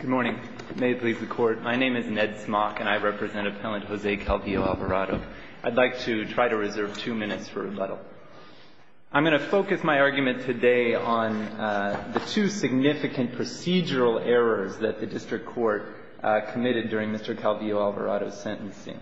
Good morning. May it please the Court. My name is Ned Smock, and I represent Appellant Jose Calvillo-Alvarado. I'd like to try to reserve two minutes for rebuttal. I'm going to focus my argument today on the two significant procedural errors that the District Court committed during Mr. Calvillo-Alvarado's sentencing.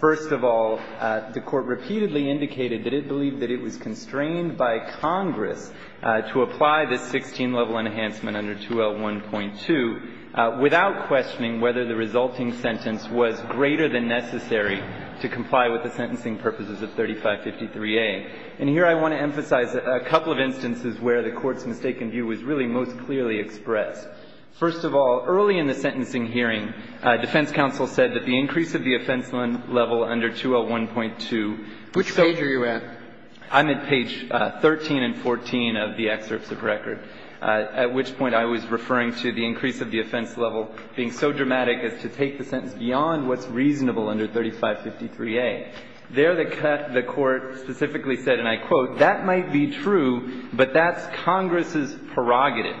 First of all, the Court repeatedly indicated that it believed that it was constrained by Congress to apply this 16-level enhancement under 2L1.2 without questioning whether the resulting sentence was greater than necessary to comply with the sentencing purposes of 3553A. And here I want to emphasize a couple of instances where the Court's mistaken view was really most clearly expressed. First of all, early in the sentencing hearing, defense counsel said that the increase of the offense level under 2L1.2 was so – Which page are you at? I'm at page 13 and 14 of the excerpts of record, at which point I was referring to the increase of the offense level being so dramatic as to take the sentence beyond what's reasonable under 3553A. There, the Court specifically said, and I quote, that might be true, but that's Congress's prerogative.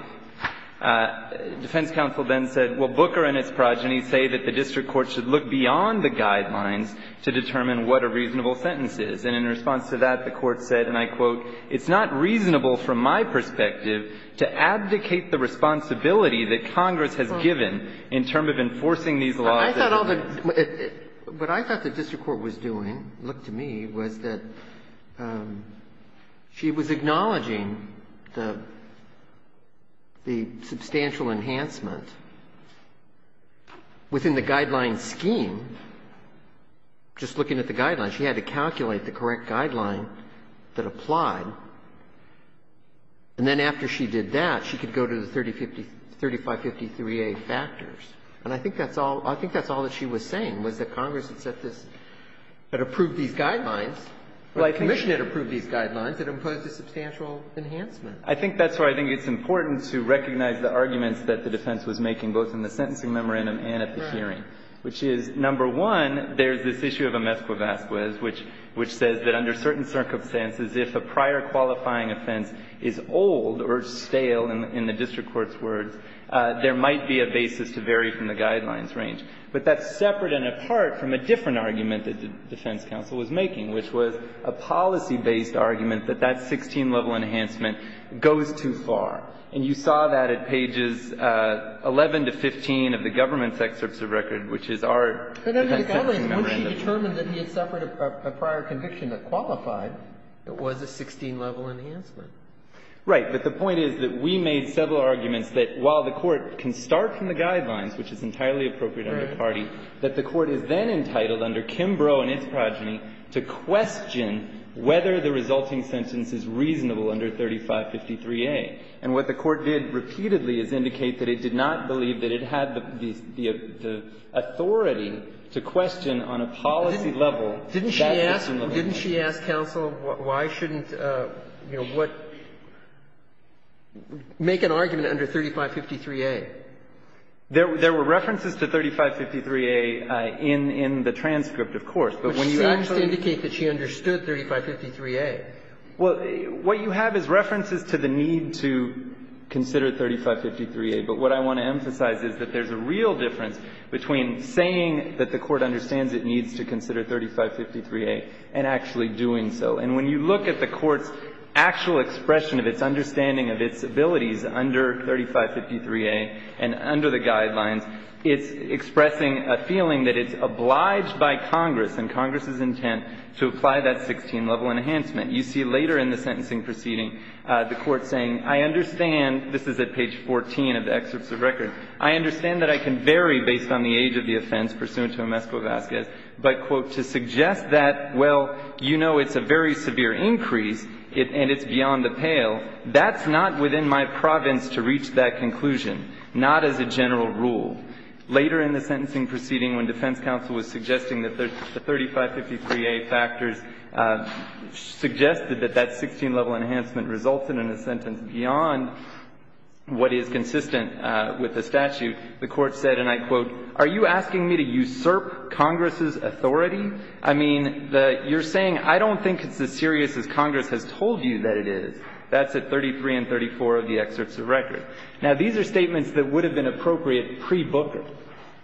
Defense counsel then said, well, Booker and his progeny say that the District Court should look beyond the guidelines to determine what a reasonable sentence is. And in response to that, the Court said, and I quote, it's not reasonable from my perspective to advocate the responsibility that Congress has given in terms of enforcing these laws. But I thought all the – what I thought the District Court was doing, looked to me, was that she was acknowledging the substantial enhancement within the guideline scheme. Just looking at the guidelines, she had to calculate the correct guideline that applied. And then after she did that, she could go to the 3553A factors. And I think that's all – I think that's all that she was saying, was that Congress had set this – had approved these guidelines, or the Commission had approved these guidelines that imposed a substantial enhancement. I think that's where I think it's important to recognize the arguments that the defense was making, both in the sentencing memorandum and at the hearing. Right. Which is, number one, there's this issue of a mesquavasquez, which says that under certain circumstances, if a prior qualifying offense is old or stale in the District Court's words, there might be a basis to vary from the guidelines range. But that's separate and apart from a different argument that the defense counsel was making, which was a policy-based argument that that 16-level enhancement goes too far. And you saw that at pages 11 to 15 of the government's excerpts of record, which is our defense sentencing memorandum. But under the guidelines, once she determined that he had suffered a prior conviction that qualified, it was a 16-level enhancement. Right. But the point is that we made several arguments that while the Court can start from the guidelines, which is entirely appropriate under the party, that the Court is then entitled under Kimbrough and its progeny to question whether the resulting sentence is reasonable under 3553A. And what the Court did repeatedly is indicate that it did not believe that it had the authority to question on a policy level that 16-level enhancement. Didn't she ask counsel, why shouldn't, you know, what, make an argument under 3553A? There were references to 3553A in the transcript, of course. But when you actually see the case that she understood 3553A. Well, what you have is references to the need to consider 3553A. But what I want to emphasize is that there's a real difference between saying that the Court understands it needs to consider 3553A and actually doing so. And when you look at the Court's actual expression of its understanding of its abilities under 3553A and under the guidelines, it's expressing a feeling that it's obliged by Congress and Congress's intent to apply that 16-level enhancement. You see later in the sentencing proceeding the Court saying, I understand, this is at page 14 of the excerpts of record, I understand that I can vary based on the age of the offense pursuant to a mesco-vazquez, but, quote, to suggest that, well, you know it's a very severe increase and it's beyond the pale, that's not within my province to reach that conclusion, not as a general rule. Later in the sentencing proceeding when defense counsel was suggesting that the 3553A factors suggested that that 16-level enhancement resulted in a sentence beyond what is consistent with the statute, the Court said, and I quote, are you asking me to usurp Congress's authority? I mean, you're saying I don't think it's as serious as Congress has told you that it is. That's at 33 and 34 of the excerpts of record. Now, these are statements that would have been appropriate pre-Booker.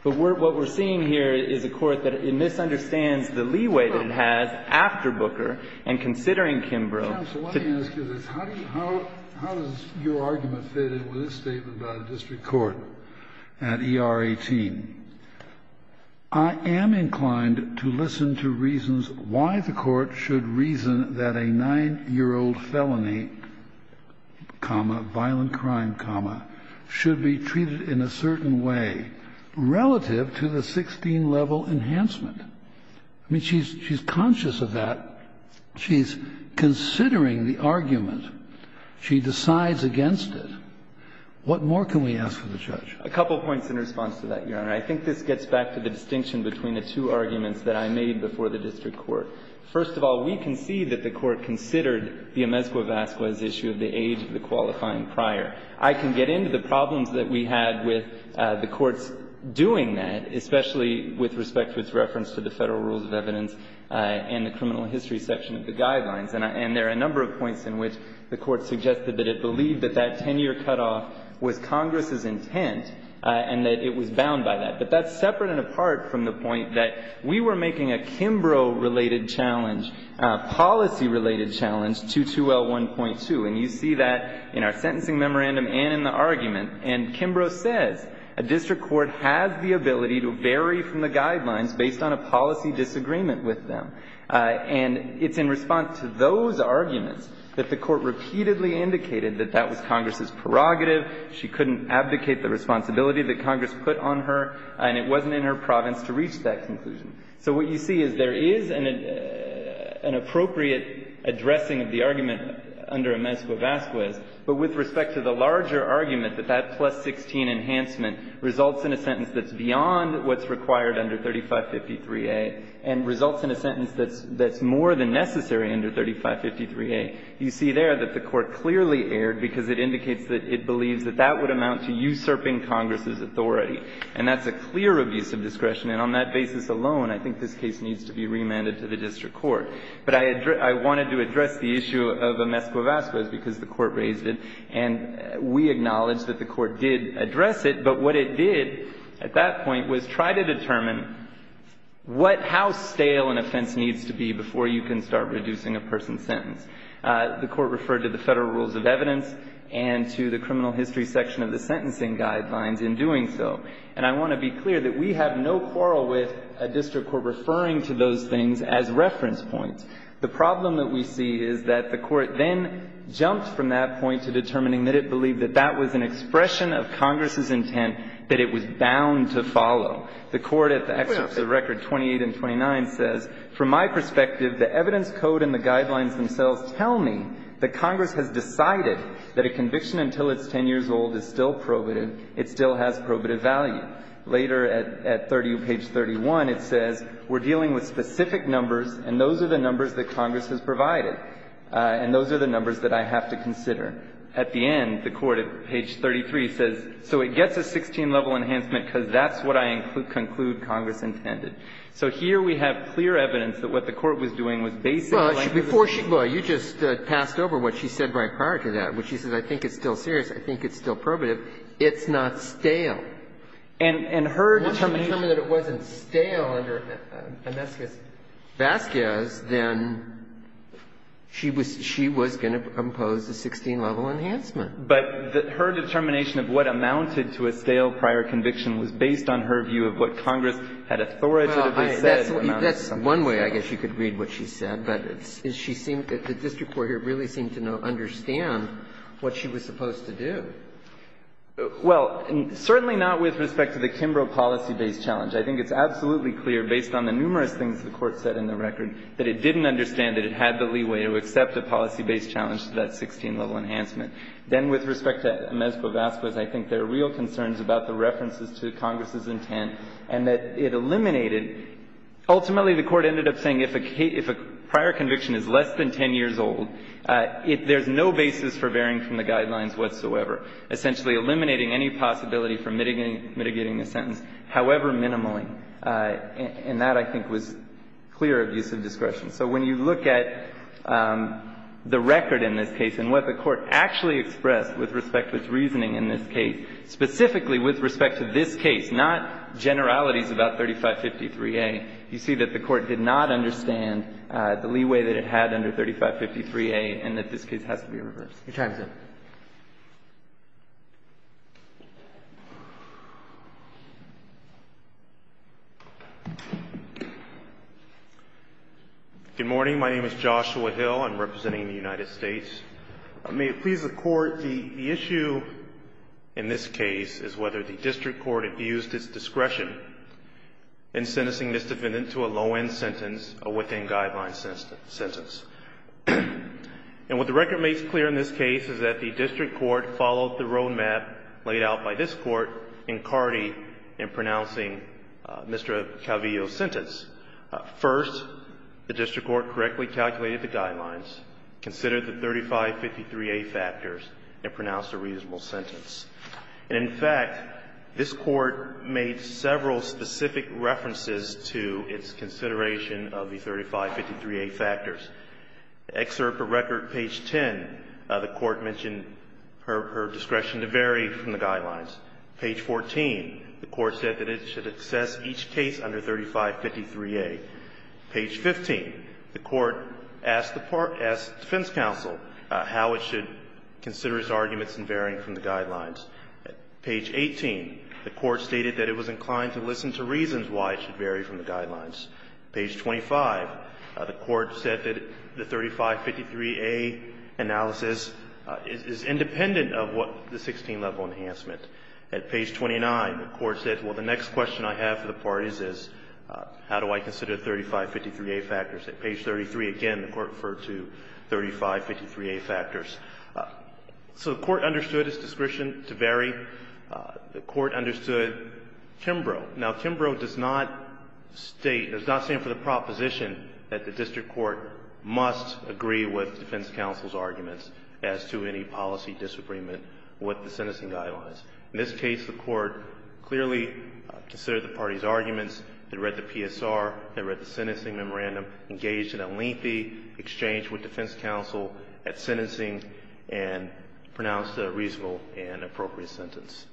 But what we're seeing here is a Court that it misunderstands the leeway that it has after Booker and considering Kimbrough. So I'm wondering how this could fit in with this statement by the district court at ER18, I am inclined to listen to reasons why the Court should reason that a 9-year-old felony, comma, violent crime, comma, should be treated in a certain way relative to the 16-level enhancement. I mean, she's conscious of that. She's considering the argument. She decides against it. What more can we ask of the judge? A couple of points in response to that, Your Honor. I think this gets back to the distinction between the two arguments that I made before the district court. First of all, we can see that the Court considered the amezcua v. asqua as the issue of the age of the qualifying prior. I can get into the problems that we had with the Court's doing that, especially with respect to its reference to the Federal Rules of Evidence and the criminal history section of the Guidelines. And there are a number of points in which the Court suggested that it believed that that 10-year cutoff was Congress's intent, and that it was bound by that. But that's separate and apart from the point that we were making a Kimbrough-related challenge, a policy-related challenge to 2L1.2, and you see that in our sentencing memorandum and in the argument. And Kimbrough says a district court has the ability to vary from the Guidelines based on a policy disagreement with them. And it's in response to those arguments that the Court repeatedly indicated that that was Congress's prerogative. She couldn't abdicate the responsibility that Congress put on her, and it wasn't in her province to reach that conclusion. So what you see is there is an appropriate addressing of the argument under amezcua v. asqua, but with respect to the larger argument that that plus-16 enhancement results in a sentence that's beyond what's required under 3553A and results in a sentence that's more than necessary under 3553A, you see there that the Court clearly erred because it indicates that it believes that that would amount to usurping Congress's authority. And that's a clear abuse of discretion, and on that basis alone, I think this case needs to be remanded to the district court. But I wanted to address the issue of amezcua v. asqua because the Court raised it, and we acknowledge that the Court did address it, but what it did at that point was try to determine what — how stale an offense needs to be before you can start reducing a person's sentence. The Court referred to the Federal Rules of Evidence and to the Criminal History section of the Sentencing Guidelines in doing so. And I want to be clear that we have no quarrel with a district court referring to those things as reference points. The problem that we see is that the Court then jumped from that point to determining that it believed that that was an expression of Congress's intent, that it was bound to follow. The Court at the excerpts of record 28 and 29 says, From my perspective, the evidence code and the guidelines themselves tell me that Congress has decided that a conviction until it's 10 years old is still probative, it still has probative value. Later, at 30, page 31, it says we're dealing with specific numbers, and those are the numbers that Congress has provided, and those are the numbers that I have to consider. At the end, the Court, at page 33, says, so it gets a 16-level enhancement because that's what I conclude Congress intended. So here we have clear evidence that what the Court was doing was basically like it was saying. Breyer, you just passed over what she said right prior to that, which is, I think it's still serious, I think it's still probative. It's not stale. And her determination that it wasn't stale under Vazquez, then she was going to impose a 16-level enhancement. But her determination of what amounted to a stale prior conviction was based on her view of what Congress had authoritatively said. That's one way I guess you could read what she said, but it's as she seemed, the district court here really seemed to understand what she was supposed to do. Well, certainly not with respect to the Kimbrough policy-based challenge. I think it's absolutely clear, based on the numerous things the Court said in the record, that it didn't understand that it had the leeway to accept a policy-based challenge to that 16-level enhancement. Then with respect to Mezco-Vazquez, I think there are real concerns about the references to Congress's intent and that it eliminated. Ultimately, the Court ended up saying if a prior conviction is less than 10 years old, there's no basis for varying from the guidelines whatsoever, essentially eliminating any possibility for mitigating a sentence, however minimally. So when you look at the record in this case and what the Court actually expressed with respect to its reasoning in this case, specifically with respect to this case, not generalities about 3553A, you see that the Court did not understand the leeway that it had under 3553A and that this case has to be reversed. Your time is up. Good morning. My name is Joshua Hill. I'm representing the United States. May it please the Court, the issue in this case is whether the district court abused its discretion in sentencing this defendant to a low-end sentence, a within-guideline sentence. And what the record makes clear in this case is that the district court followed the road map laid out by this Court in Carde in pronouncing Mr. Calvillo's sentence. First, the district court correctly calculated the guidelines, considered the 3553A factors, and pronounced a reasonable sentence. And in fact, this Court made several specific references to its consideration of the 3553A factors. Excerpt of record page 10, the Court mentioned her discretion to vary from the guidelines. Page 14, the Court said that it should assess each case under 3553A. Page 15, the Court asked the defense counsel how it should consider its arguments in varying from the guidelines. Page 18, the Court stated that it was inclined to listen to reasons why it should vary from the guidelines. Page 25, the Court said that the 3553A analysis is independent of what the 16-level enhancement. At page 29, the Court said, well, the next question I have for the parties is how do I consider 3553A factors? At page 33, again, the Court referred to 3553A factors. So the Court understood its discretion to vary. The Court understood Kimbrough. Now, Kimbrough does not state or does not stand for the proposition that the district court must agree with defense counsel's arguments as to any policy disagreement with the sentencing guidelines. In this case, the Court clearly considered the parties' arguments, had read the PSR, had read the sentencing memorandum, engaged in a lengthy exchange with defense counsel at sentencing, and pronounced a reasonable and appropriate sentence.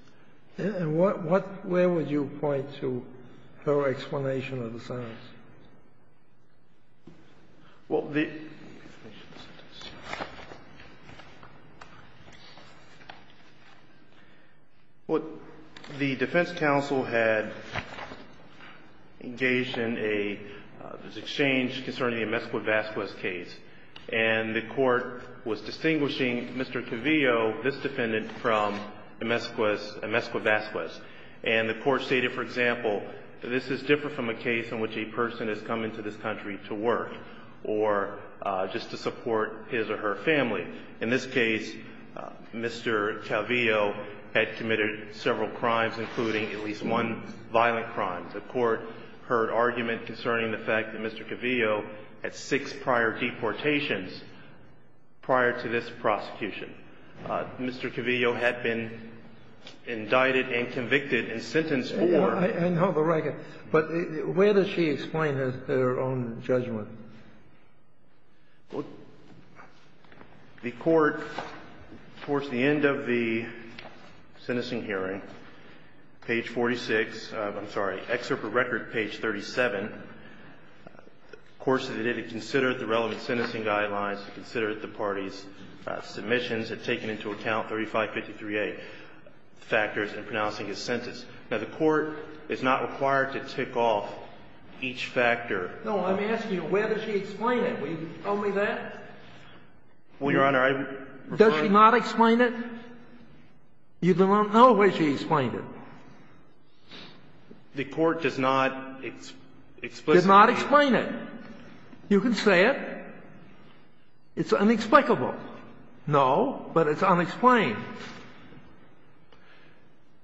And what where would you point to her explanation of the sentence? Well, the defense counsel had engaged in a exchange concerning the Emesqua-Vasquez case, and the Court was distinguishing Mr. Cavillo, this defendant, from Emesqua's case, Emesqua-Vasquez. And the Court stated, for example, that this is different from a case in which a person has come into this country to work or just to support his or her family. In this case, Mr. Cavillo had committed several crimes, including at least one violent crime. The Court heard argument concerning the fact that Mr. Cavillo had six prior deportations prior to this prosecution. Mr. Cavillo had been indicted and convicted and sentenced for the record. But where does she explain her own judgment? Well, the Court, towards the end of the sentencing hearing, page 46, I'm sorry, excerpt from record page 37, of course, they did consider the relevant sentencing guidelines to consider the parties' submissions had taken into account 3553A factors in pronouncing his sentence. Now, the Court is not required to tick off each factor. No, I'm asking you, where does she explain it? Will you tell me that? Well, Your Honor, I'm trying to do my job. Does she not explain it? You don't know where she explained it. The Court does not explicitly explain it. Does not explain it. You can say it. It's unexplained. No, but it's unexplained.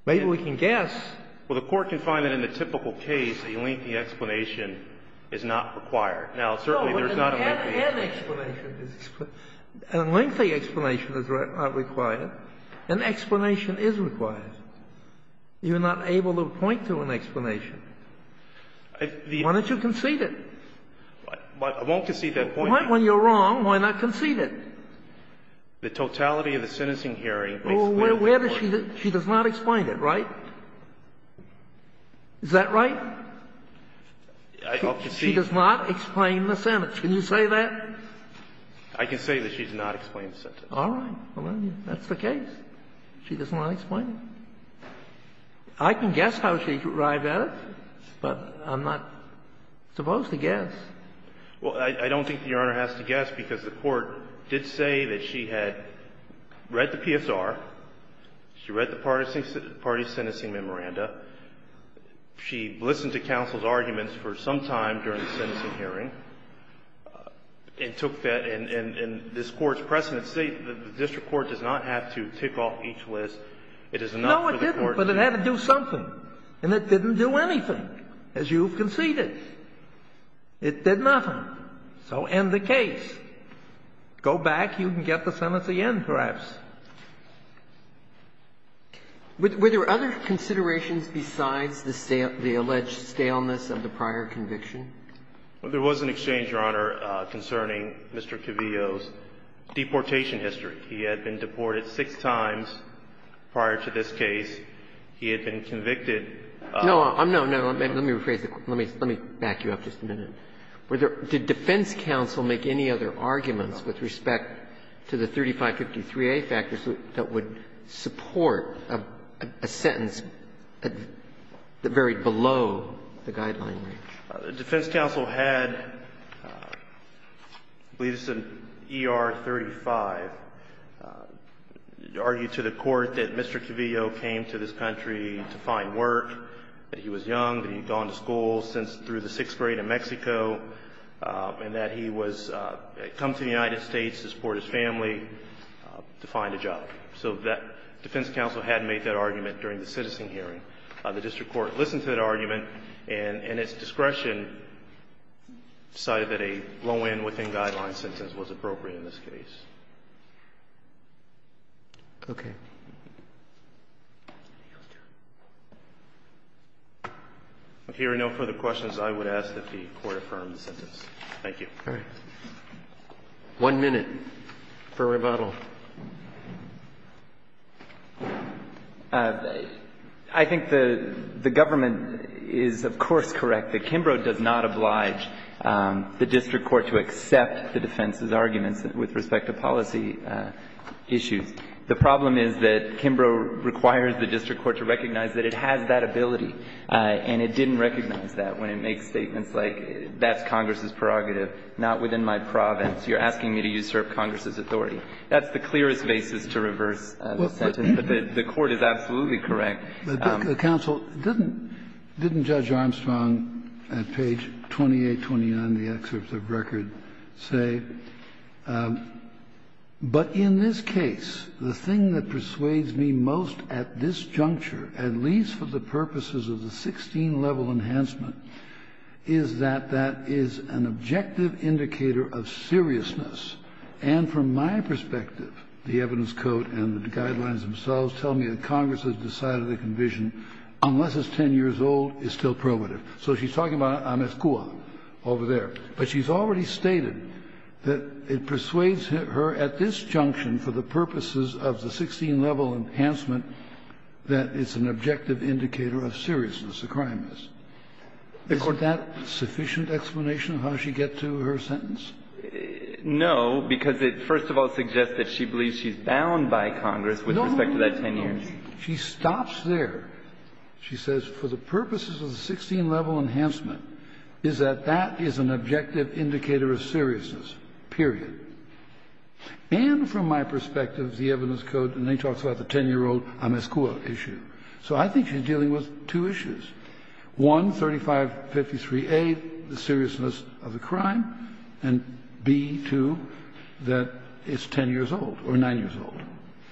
Maybe we can guess. Well, the Court can find that in a typical case a lengthy explanation is not required. Now, certainly there's not a lengthy explanation. No, but an explanation is not required. An explanation is required. You're not able to point to an explanation. Why don't you concede it? I won't concede that point. When you're wrong, why not concede it? The totality of the sentencing hearing makes clear the point. Well, where does she do it? She does not explain it, right? Is that right? I'll concede. She does not explain the sentence. Can you say that? I can say that she does not explain the sentence. All right. That's the case. She does not explain it. I can guess how she arrived at it, but I'm not supposed to guess. Well, I don't think Your Honor has to guess because the Court did say that she had read the PSR, she read the parties' sentencing memoranda, she listened to counsel's arguments for some time during the sentencing hearing, and took that, and this Court's precedent states that the district court does not have to tick off each list. It is not for the Court to do that. No, it didn't, but it had to do something, and it didn't do anything, as you've conceded. It did nothing. So end the case. Go back. You can get the sentence again, perhaps. Were there other considerations besides the alleged staleness of the prior conviction? Well, there was an exchange, Your Honor, concerning Mr. Cavillo's deportation history. He had been deported six times prior to this case. He had been convicted of no, no, no, let me rephrase it. Let me back you up just a minute. Were there – did defense counsel make any other arguments with respect to the 3553A factors that would support a sentence that varied below the guideline range? The defense counsel had, I believe this is in ER 35, argued to the Court that Mr. Cavillo came to this country to find work, that he was young, that he had gone to school since through the sixth grade in Mexico, and that he was – had come to the United States to support his family to find a job. So that defense counsel hadn't made that argument during the citizen hearing. The district court listened to that argument and, in its discretion, decided that a low end within guideline sentence was appropriate in this case. Okay. If there are no further questions, I would ask that the Court affirm the sentence. Thank you. All right. One minute for rebuttal. I think the government is, of course, correct that Kimbrough does not oblige the district court to accept the defense's arguments with respect to policy issues. The problem is that Kimbrough requires the district court to recognize that it has that ability, and it didn't recognize that when it makes statements like, that's Congress's prerogative, not within my province. You're asking me to usurp Congress's authority. That's the clearest basis to reverse the sentence. But the Court is absolutely correct. The counsel didn't – didn't Judge Armstrong at page 2829 of the excerpt of the But in this case, the thing that persuades me most at this juncture, at least for the purposes of the 16-level enhancement, is that that is an objective indicator of seriousness. And from my perspective, the evidence code and the guidelines themselves tell me that Congress has decided the convision, unless it's 10 years old, is still prerogative. So she's talking about Amescua over there. But she's already stated that it persuades her at this junction, for the purposes of the 16-level enhancement, that it's an objective indicator of seriousness, the crime is. Isn't that sufficient explanation of how she gets to her sentence? No, because it first of all suggests that she believes she's bound by Congress with respect to that 10 years. No, no, no, she stops there. She says, for the purposes of the 16-level enhancement, is that that is an objective indicator of seriousness, period. And from my perspective, the evidence code, and then she talks about the 10-year-old Amescua issue. So I think she's dealing with two issues, one, 3553A, the seriousness of the crime, and B, too, that it's 10 years old or 9 years old.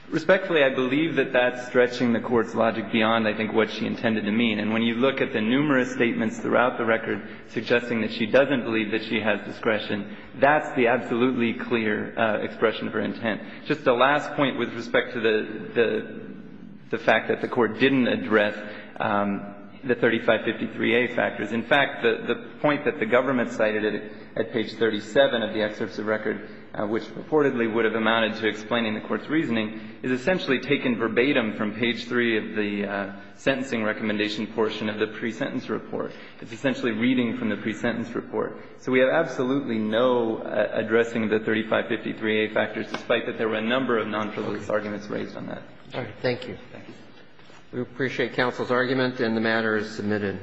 Respectfully, I believe that that's stretching the Court's logic beyond, I think, what she intended to mean. And when you look at the numerous statements throughout the record suggesting that she doesn't believe that she has discretion, that's the absolutely clear expression of her intent. Just a last point with respect to the fact that the Court didn't address the 3553A factors. In fact, the point that the government cited at page 37 of the excerpts of record, which reportedly would have amounted to explaining the Court's reasoning, is essentially taken verbatim from page 3 of the sentencing recommendation portion of the pre-sentence report. It's essentially reading from the pre-sentence report. So we have absolutely no addressing of the 3553A factors, despite that there were a number of non-prelude arguments raised on that. Roberts. Thank you. We appreciate counsel's argument, and the matter is submitted.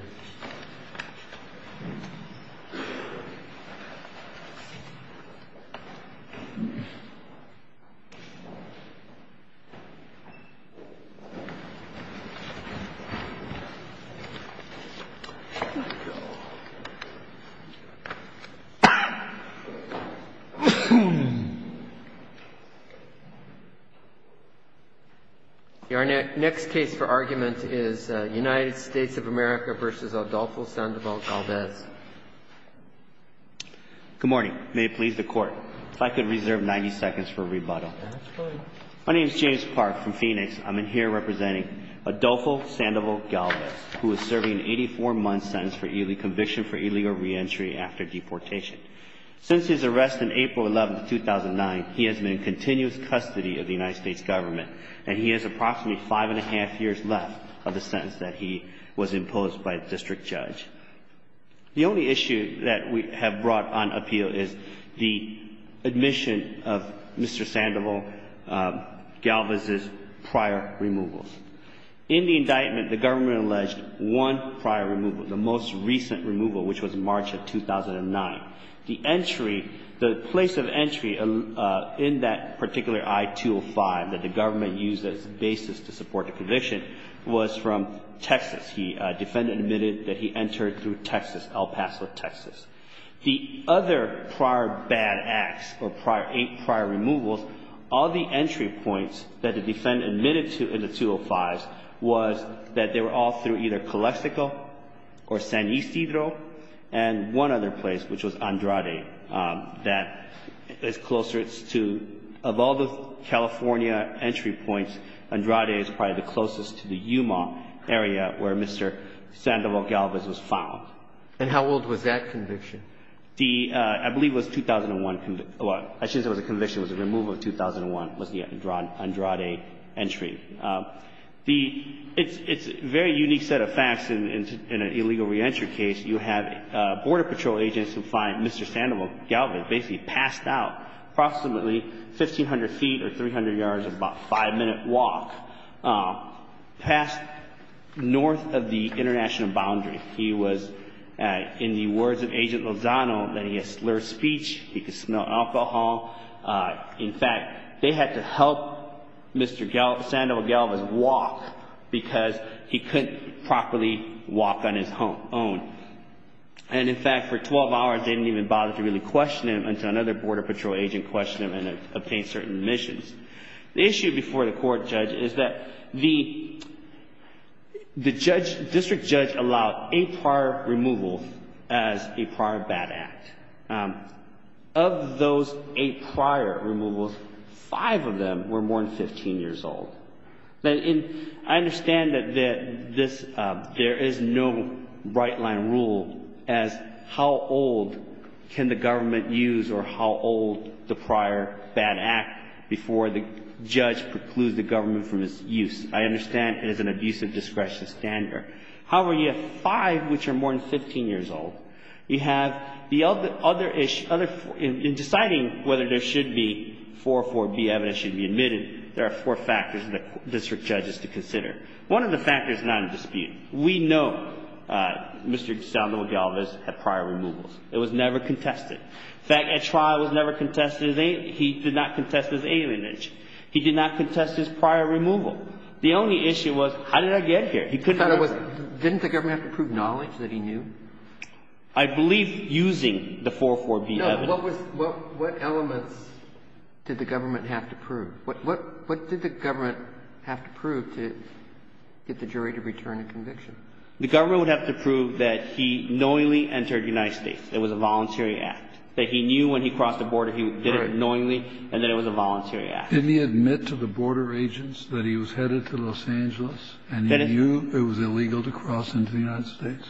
Our next case for argument is United States of America v. United States of America v. Adolfo Sandoval-Galvez. Good morning. May it please the Court, if I could reserve 90 seconds for rebuttal. My name is James Park from Phoenix. I'm in here representing Adolfo Sandoval-Galvez, who is serving an 84-month sentence for conviction for illegal reentry after deportation. Since his arrest in April 11, 2009, he has been in continuous custody of the United States government, and he has approximately five and a half years left of the sentence that he was imposed by the district judge. The only issue that we have brought on appeal is the admission of Mr. Sandoval-Galvez's prior removals. In the indictment, the government alleged one prior removal, the most recent removal, which was March of 2009. The entry, the place of entry in that particular I-205 that the government used as a basis to support the conviction was from Texas. The defendant admitted that he entered through Texas, El Paso, Texas. The other prior bad acts or prior removals, all the entry points that the defendant admitted to in the I-205s was that they were all through either Calexico or San Isidro, and one other place, which was Andrade, that is closer to, of all the California entry points, Andrade is probably the closest to the Yuma area where Mr. Sandoval-Galvez was found. And how old was that conviction? The — I believe it was 2001 — well, I shouldn't say it was a conviction. It was a removal of 2001, was the Andrade entry. The — it's a very unique set of facts in an illegal reentry case. You have Border Patrol agents who find Mr. Sandoval-Galvez basically passed out approximately 1,500 feet or 300 yards in about a five-minute walk. Passed north of the international boundary. He was, in the words of Agent Lozano, that he had slurred speech, he could smell alcohol. In fact, they had to help Mr. Sandoval-Galvez walk because he couldn't properly walk on his own. And in fact, for 12 hours, they didn't even bother to really question him until another Border Patrol agent questioned him and obtained certain admissions. The issue before the court, Judge, is that the — the judge — district judge allowed eight prior removals as a prior bad act. Of those eight prior removals, five of them were more than 15 years old. And I understand that this — there is no right-line rule as how old can the government use or how old the prior bad act before the judge precludes the government from its use. I understand it is an abusive discretion standard. However, you have five which are more than 15 years old. You have the other — other — in deciding whether there should be 404B evidence should be admitted, there are four factors that district judges should consider. One of the factors is not in dispute. We know Mr. Sandoval-Galvez had prior removals. It was never contested. In fact, at trial, it was never contested. He did not contest his alienage. He did not contest his prior removal. The only issue was, how did I get here? He couldn't — Didn't the government have to prove knowledge that he knew? I believe using the 404B evidence. No. What was — what elements did the government have to prove? What did the government have to prove to get the jury to return a conviction? The government would have to prove that he knowingly entered the United States. It was a voluntary act. That he knew when he crossed the border, he did it knowingly, and that it was a voluntary act. Didn't he admit to the border agents that he was headed to Los Angeles and he knew it was illegal to cross into the United States?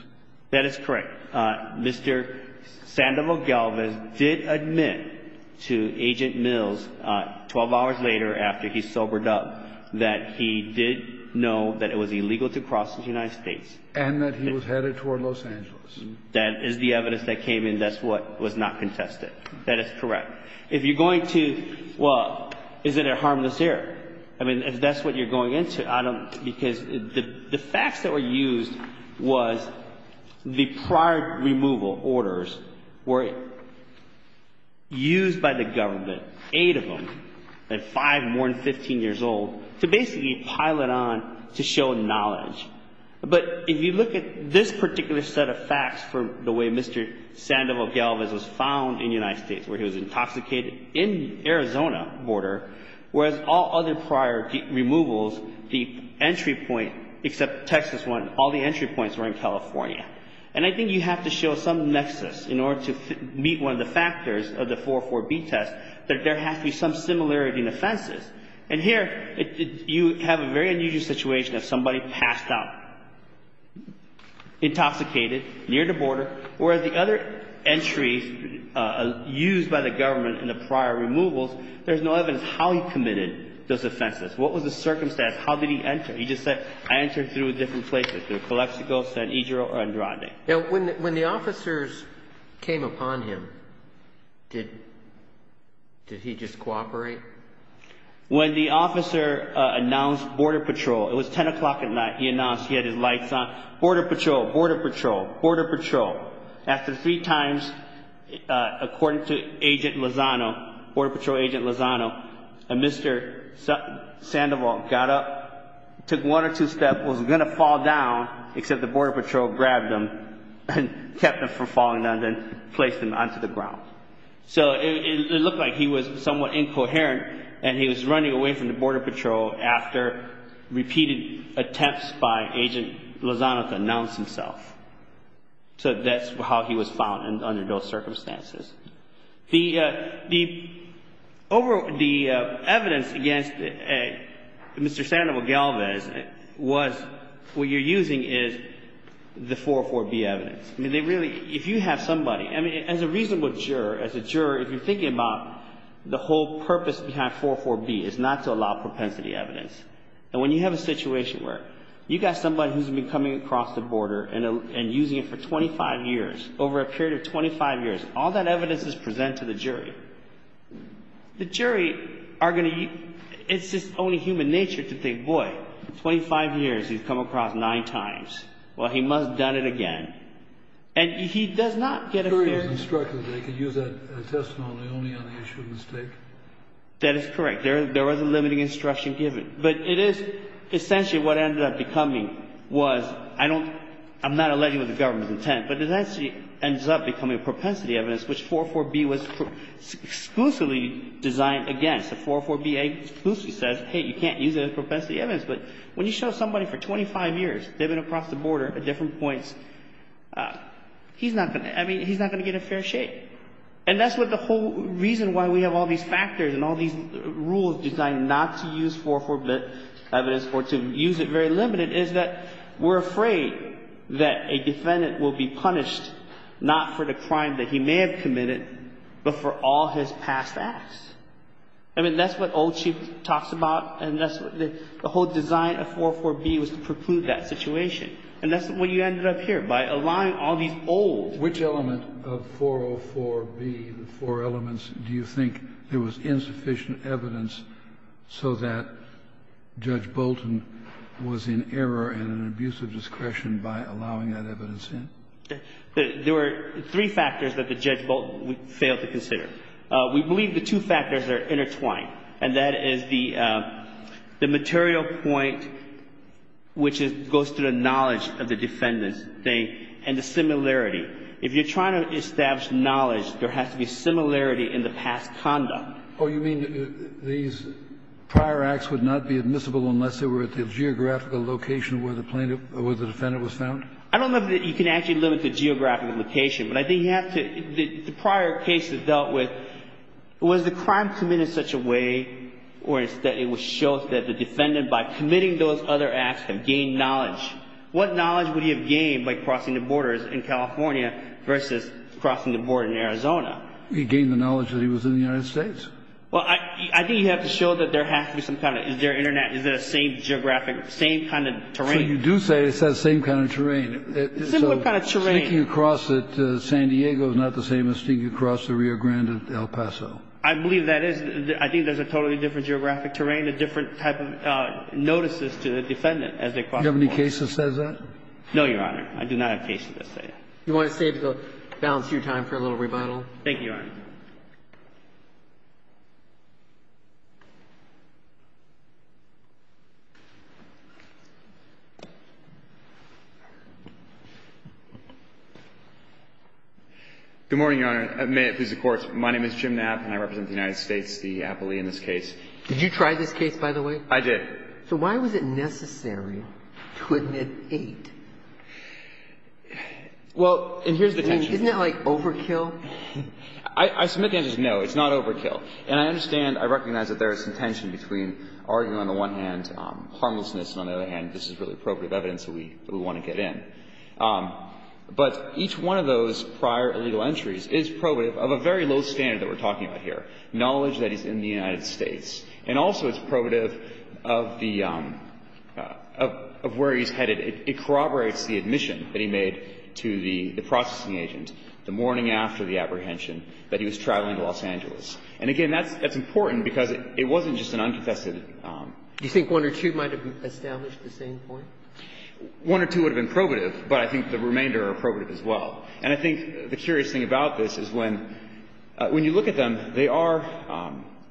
That is correct. Mr. Sandoval-Galvez did admit to Agent Mills, 12 hours later after he sobered up, that he did know that it was illegal to cross into the United States. And that he was headed toward Los Angeles. That is the evidence that came in. That's what was not contested. That is correct. If you're going to — well, is it a harmless error? I mean, if that's what you're going into, I don't — because the facts that were used was the prior removal orders were used by the government, eight of them, and five more than 15 years old, to basically pile it on to show knowledge. But if you look at this particular set of facts for the way Mr. Sandoval-Galvez was found in the United States, where he was intoxicated in the Arizona border, whereas all other prior removals, the entry point — except the Texas one, all the entry points were in California. And I think you have to show some nexus in order to meet one of the factors of the 404B test, And here, you have a very unusual situation of somebody passed out, intoxicated near the border, whereas the other entries used by the government in the prior removals, there's no evidence how he committed those offenses. What was the circumstance? How did he enter? He just said, I entered through different places, through Calexico, San Ysidro, and Rodney. Now, when the officers came upon him, did he just cooperate? When the officer announced Border Patrol, it was 10 o'clock at night, he announced, he had his lights on, Border Patrol, Border Patrol, Border Patrol. After three times, according to Agent Lozano, Border Patrol Agent Lozano, Mr. Sandoval got up, took one or two steps, was going to fall down, except the Border Patrol grabbed him and kept him from falling down, then placed him onto the ground. So, it looked like he was somewhat incoherent, and he was running away from the Border Patrol after repeated attempts by Agent Lozano to announce himself. So, that's how he was found under those circumstances. The evidence against Mr. Sandoval Galvez was, what you're using is the 404B evidence. I mean, they really, if you have somebody, I mean, as a reasonable juror, as a juror, if you're thinking about the whole purpose behind 404B is not to allow propensity evidence. And when you have a situation where you've got somebody who's been coming across the border and using it for 25 years, over a period of 25 years, all that evidence is presented to the jury. The jury are going to, it's just only human nature to think, boy, 25 years, he's come across nine times. Well, he must have done it again. And he does not get a fair... The jury is instructed that he can use that testimony only on the issue of mistake? That is correct. There was a limiting instruction given. But it is essentially what ended up becoming was, I don't, I'm not alleging with the government's intent, but it actually ends up becoming a propensity evidence, which 404B was exclusively designed against. 404B exclusively says, hey, you can't use it as propensity evidence. But when you show somebody for 25 years, they've been across the border at different points, he's not going to, I mean, he's not going to get in fair shape. And that's what the whole reason why we have all these factors and all these rules designed not to use 404B evidence or to use it very limited is that we're afraid that a defendant will be punished not for the crime that he may have committed, but for all his past acts. I mean, that's what old chief talks about. And that's what the whole design of 404B was to preclude that situation. And that's when you ended up here, by allowing all these old... Which element of 404B, the four elements, do you think there was insufficient evidence so that Judge Bolton was in error and an abuse of discretion by allowing that evidence in? There were three factors that Judge Bolton failed to consider. We believe the two factors are intertwined. And that is the material point, which goes to the knowledge of the defendant, and the similarity. If you're trying to establish knowledge, there has to be similarity in the past conduct. Oh, you mean these prior acts would not be admissible unless they were at the geographical location where the defendant was found? I don't know that you can actually limit the geographical location. But I think you have to... The prior case that dealt with... Was the crime committed in such a way that it would show that the defendant, by committing those other acts, had gained knowledge? What knowledge would he have gained by crossing the borders in California versus crossing the border in Arizona? He gained the knowledge that he was in the United States. Well, I think you have to show that there has to be some kind of... Is there Internet? Is it the same geographic... So you do say it's that same kind of terrain. Similar kind of terrain. Stinking across at San Diego is not the same as stinking across the Rio Grande at El Paso. I believe that is. I think there's a totally different geographic terrain, a different type of notices to the defendant as they cross the border. Do you have any cases that says that? No, Your Honor. I do not have cases that say that. Do you want to save the balance of your time for a little rebuttal? Thank you, Your Honor. Good morning, Your Honor. May it please the Court. My name is Jim Knapp, and I represent the United States, the appellee in this case. Did you try this case, by the way? I did. So why was it necessary to admit eight? Well, and here's the tension. I mean, isn't it like overkill? I submit the answer is no. It's not overkill. And I understand, I recognize that there is some tension between arguing, on the one hand, harmlessness, and on the other hand, this is really appropriate evidence that we want to get in. But each one of those prior illegal entries is probative of a very low standard that we're talking about here, knowledge that he's in the United States. And also it's probative of the, of where he's headed. It corroborates the admission that he made to the processing agent the morning after the apprehension that he was traveling to Los Angeles. And again, that's important because it wasn't just an unconfessed. Do you think one or two might have established the same point? One or two would have been probative, but I think the remainder are probative as well. And I think the curious thing about this is when, when you look at them, they are,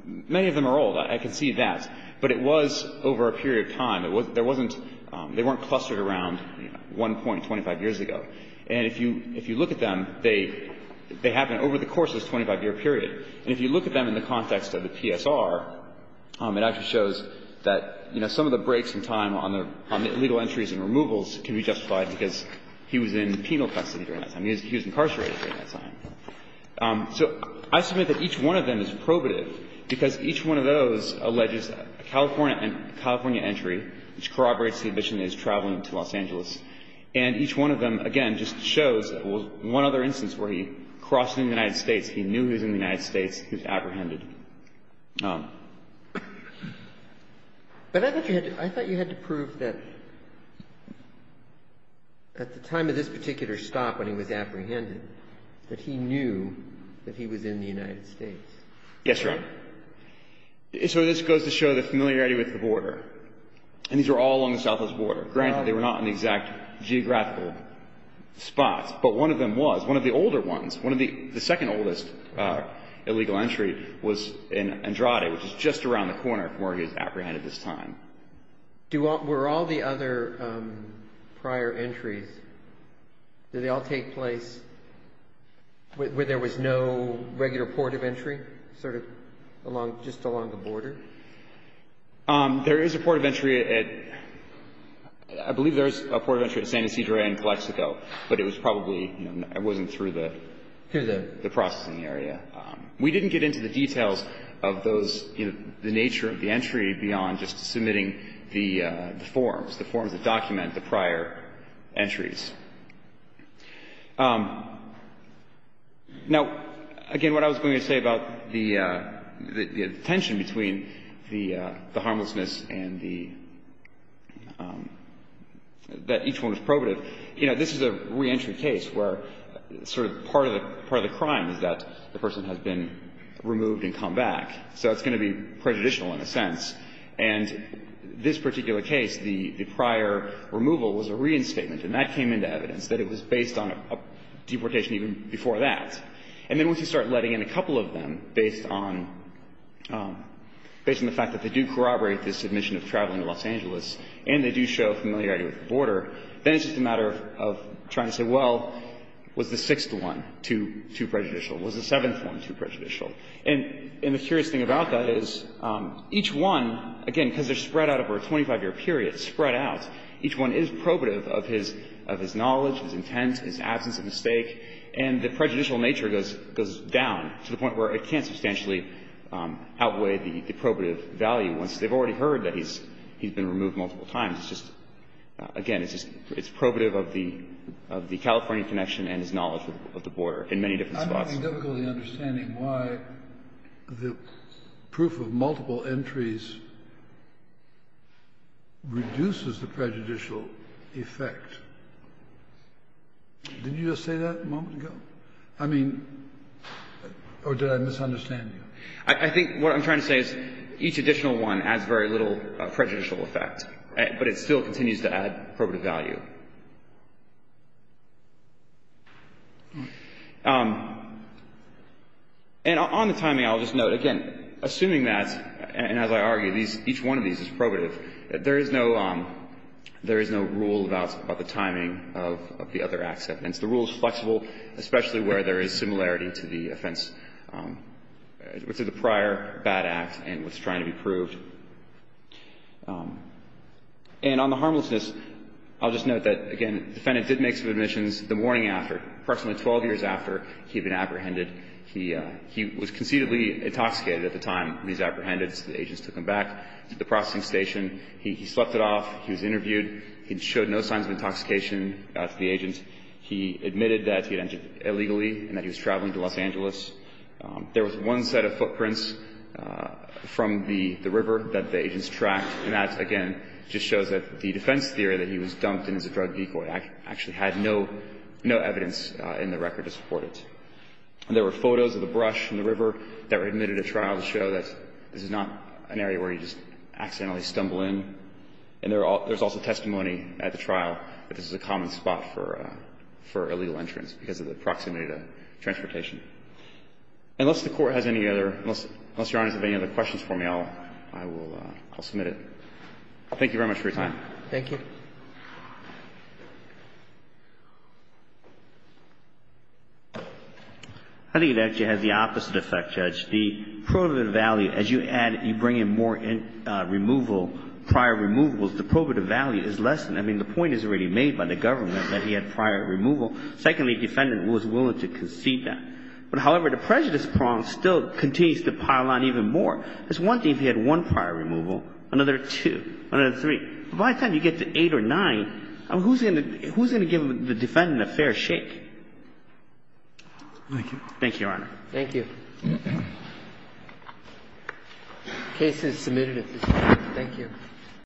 many of them are old. I can see that. But it was over a period of time. There wasn't, they weren't clustered around 1.25 years ago. And if you, if you look at them, they, they happened over the course of this 25-year period. And if you look at them in the context of the PSR, it actually shows that, you know, there's, there's a lot of evidence that he was in high risk, most of the time But there's also evidence that he was in high risk for criminal entries and removals can be justified because he was in penal custody during that time. He was incarcerated during that time. So I submit that each one of them is probative because each one of those alleges a California, a California entry, which corroborates the admission that he was traveling to Los Angeles. And each one of them, again, just shows one other instance where he crossed into the United States. He knew he was in the United States. He was apprehended. But I thought you had to, I thought you had to prove that at the time of this particular stop when he was apprehended, that he knew that he was in the United States. Yes, Your Honor. So this goes to show the familiarity with the border. And these were all along the southwest border. Granted, they were not in the exact geographical spots. But one of them was, one of the older ones, one of the second oldest illegal entry was in Andrade, which is just around the corner from where he was apprehended this time. Were all the other prior entries, did they all take place where there was no regular port of entry, sort of along, just along the border? There is a port of entry at — I believe there is a port of entry at San Ysidro and Calexico. But it was probably, you know, it wasn't through the processing area. We didn't get into the details of those, you know, the nature of the entry beyond just submitting the forms, the forms that document the prior entries. Now, again, what I was going to say about the tension between the harmlessness and the — that each one was probative, you know, this is a reentry case where sort of part of the crime is that the person has been removed and come back. So it's going to be prejudicial in a sense. And this particular case, the prior removal was a reinstatement. And that came into evidence, that it was based on a deportation even before that. And then once you start letting in a couple of them based on the fact that they do corroborate this admission of traveling to Los Angeles and they do show familiarity with the border, then it's just a matter of trying to say, well, was the sixth one too prejudicial? Was the seventh one too prejudicial? And the curious thing about that is each one, again, because they're spread out over a 25-year period, spread out. Each one is probative of his knowledge, his intent, his absence of mistake. And the prejudicial nature goes down to the point where it can't substantially outweigh the probative value once they've already heard that he's been removed multiple times. It's just, again, it's probative of the California connection and his knowledge of the border in many different spots. Kennedy. I'm having difficulty understanding why the proof of multiple entries reduces the prejudicial effect. Did you just say that a moment ago? I mean, or did I misunderstand you? I think what I'm trying to say is each additional one adds very little prejudicial effect, but it still continues to add probative value. And on the timing, I'll just note, again, assuming that, and as I argue, each one of these is probative, there is no rule about the timing of the other acts evidence. The rule is flexible, especially where there is similarity to the offense, to the prior bad act and what's trying to be proved. And on the harmlessness, I'll just note that there is no rule about the timing of the other acts. The other thing that I'm trying to say is that, again, the defendant did make some admissions the morning after, approximately 12 years after he'd been apprehended. He was conceitably intoxicated at the time he was apprehended, so the agents took him back to the processing station. He slept it off. He was interviewed. He showed no signs of intoxication to the agent. He admitted that he had entered illegally and that he was traveling to Los Angeles. There was one set of footprints from the river that the agents tracked, and that, again, just shows that the defense theory that he was dumped in as a drug decoy actually had no evidence in the record to support it. And there were photos of the brush from the river that were admitted at trial to show that this is not an area where you just accidentally stumble in. And there's also testimony at the trial that this is a common spot for illegal entrance because of the proximity to transportation. Unless the Court has any other – unless Your Honor has any other questions for me, I will – I'll submit it. Thank you very much for your time. Thank you. I think it actually has the opposite effect, Judge. The prohibitive value, as you add – you bring in more removal, prior removals, the prohibitive value is lessened. I mean, the point is already made by the government that he had prior removal. Secondly, the defendant was willing to concede that. But, however, the prejudice prong still continues to pile on even more. It's one thing if he had one prior removal, another two, another three. By the time you get to eight or nine, who's going to give the defendant a fair shake? Thank you, Your Honor. Thank you. The case is submitted at this time. Thank you.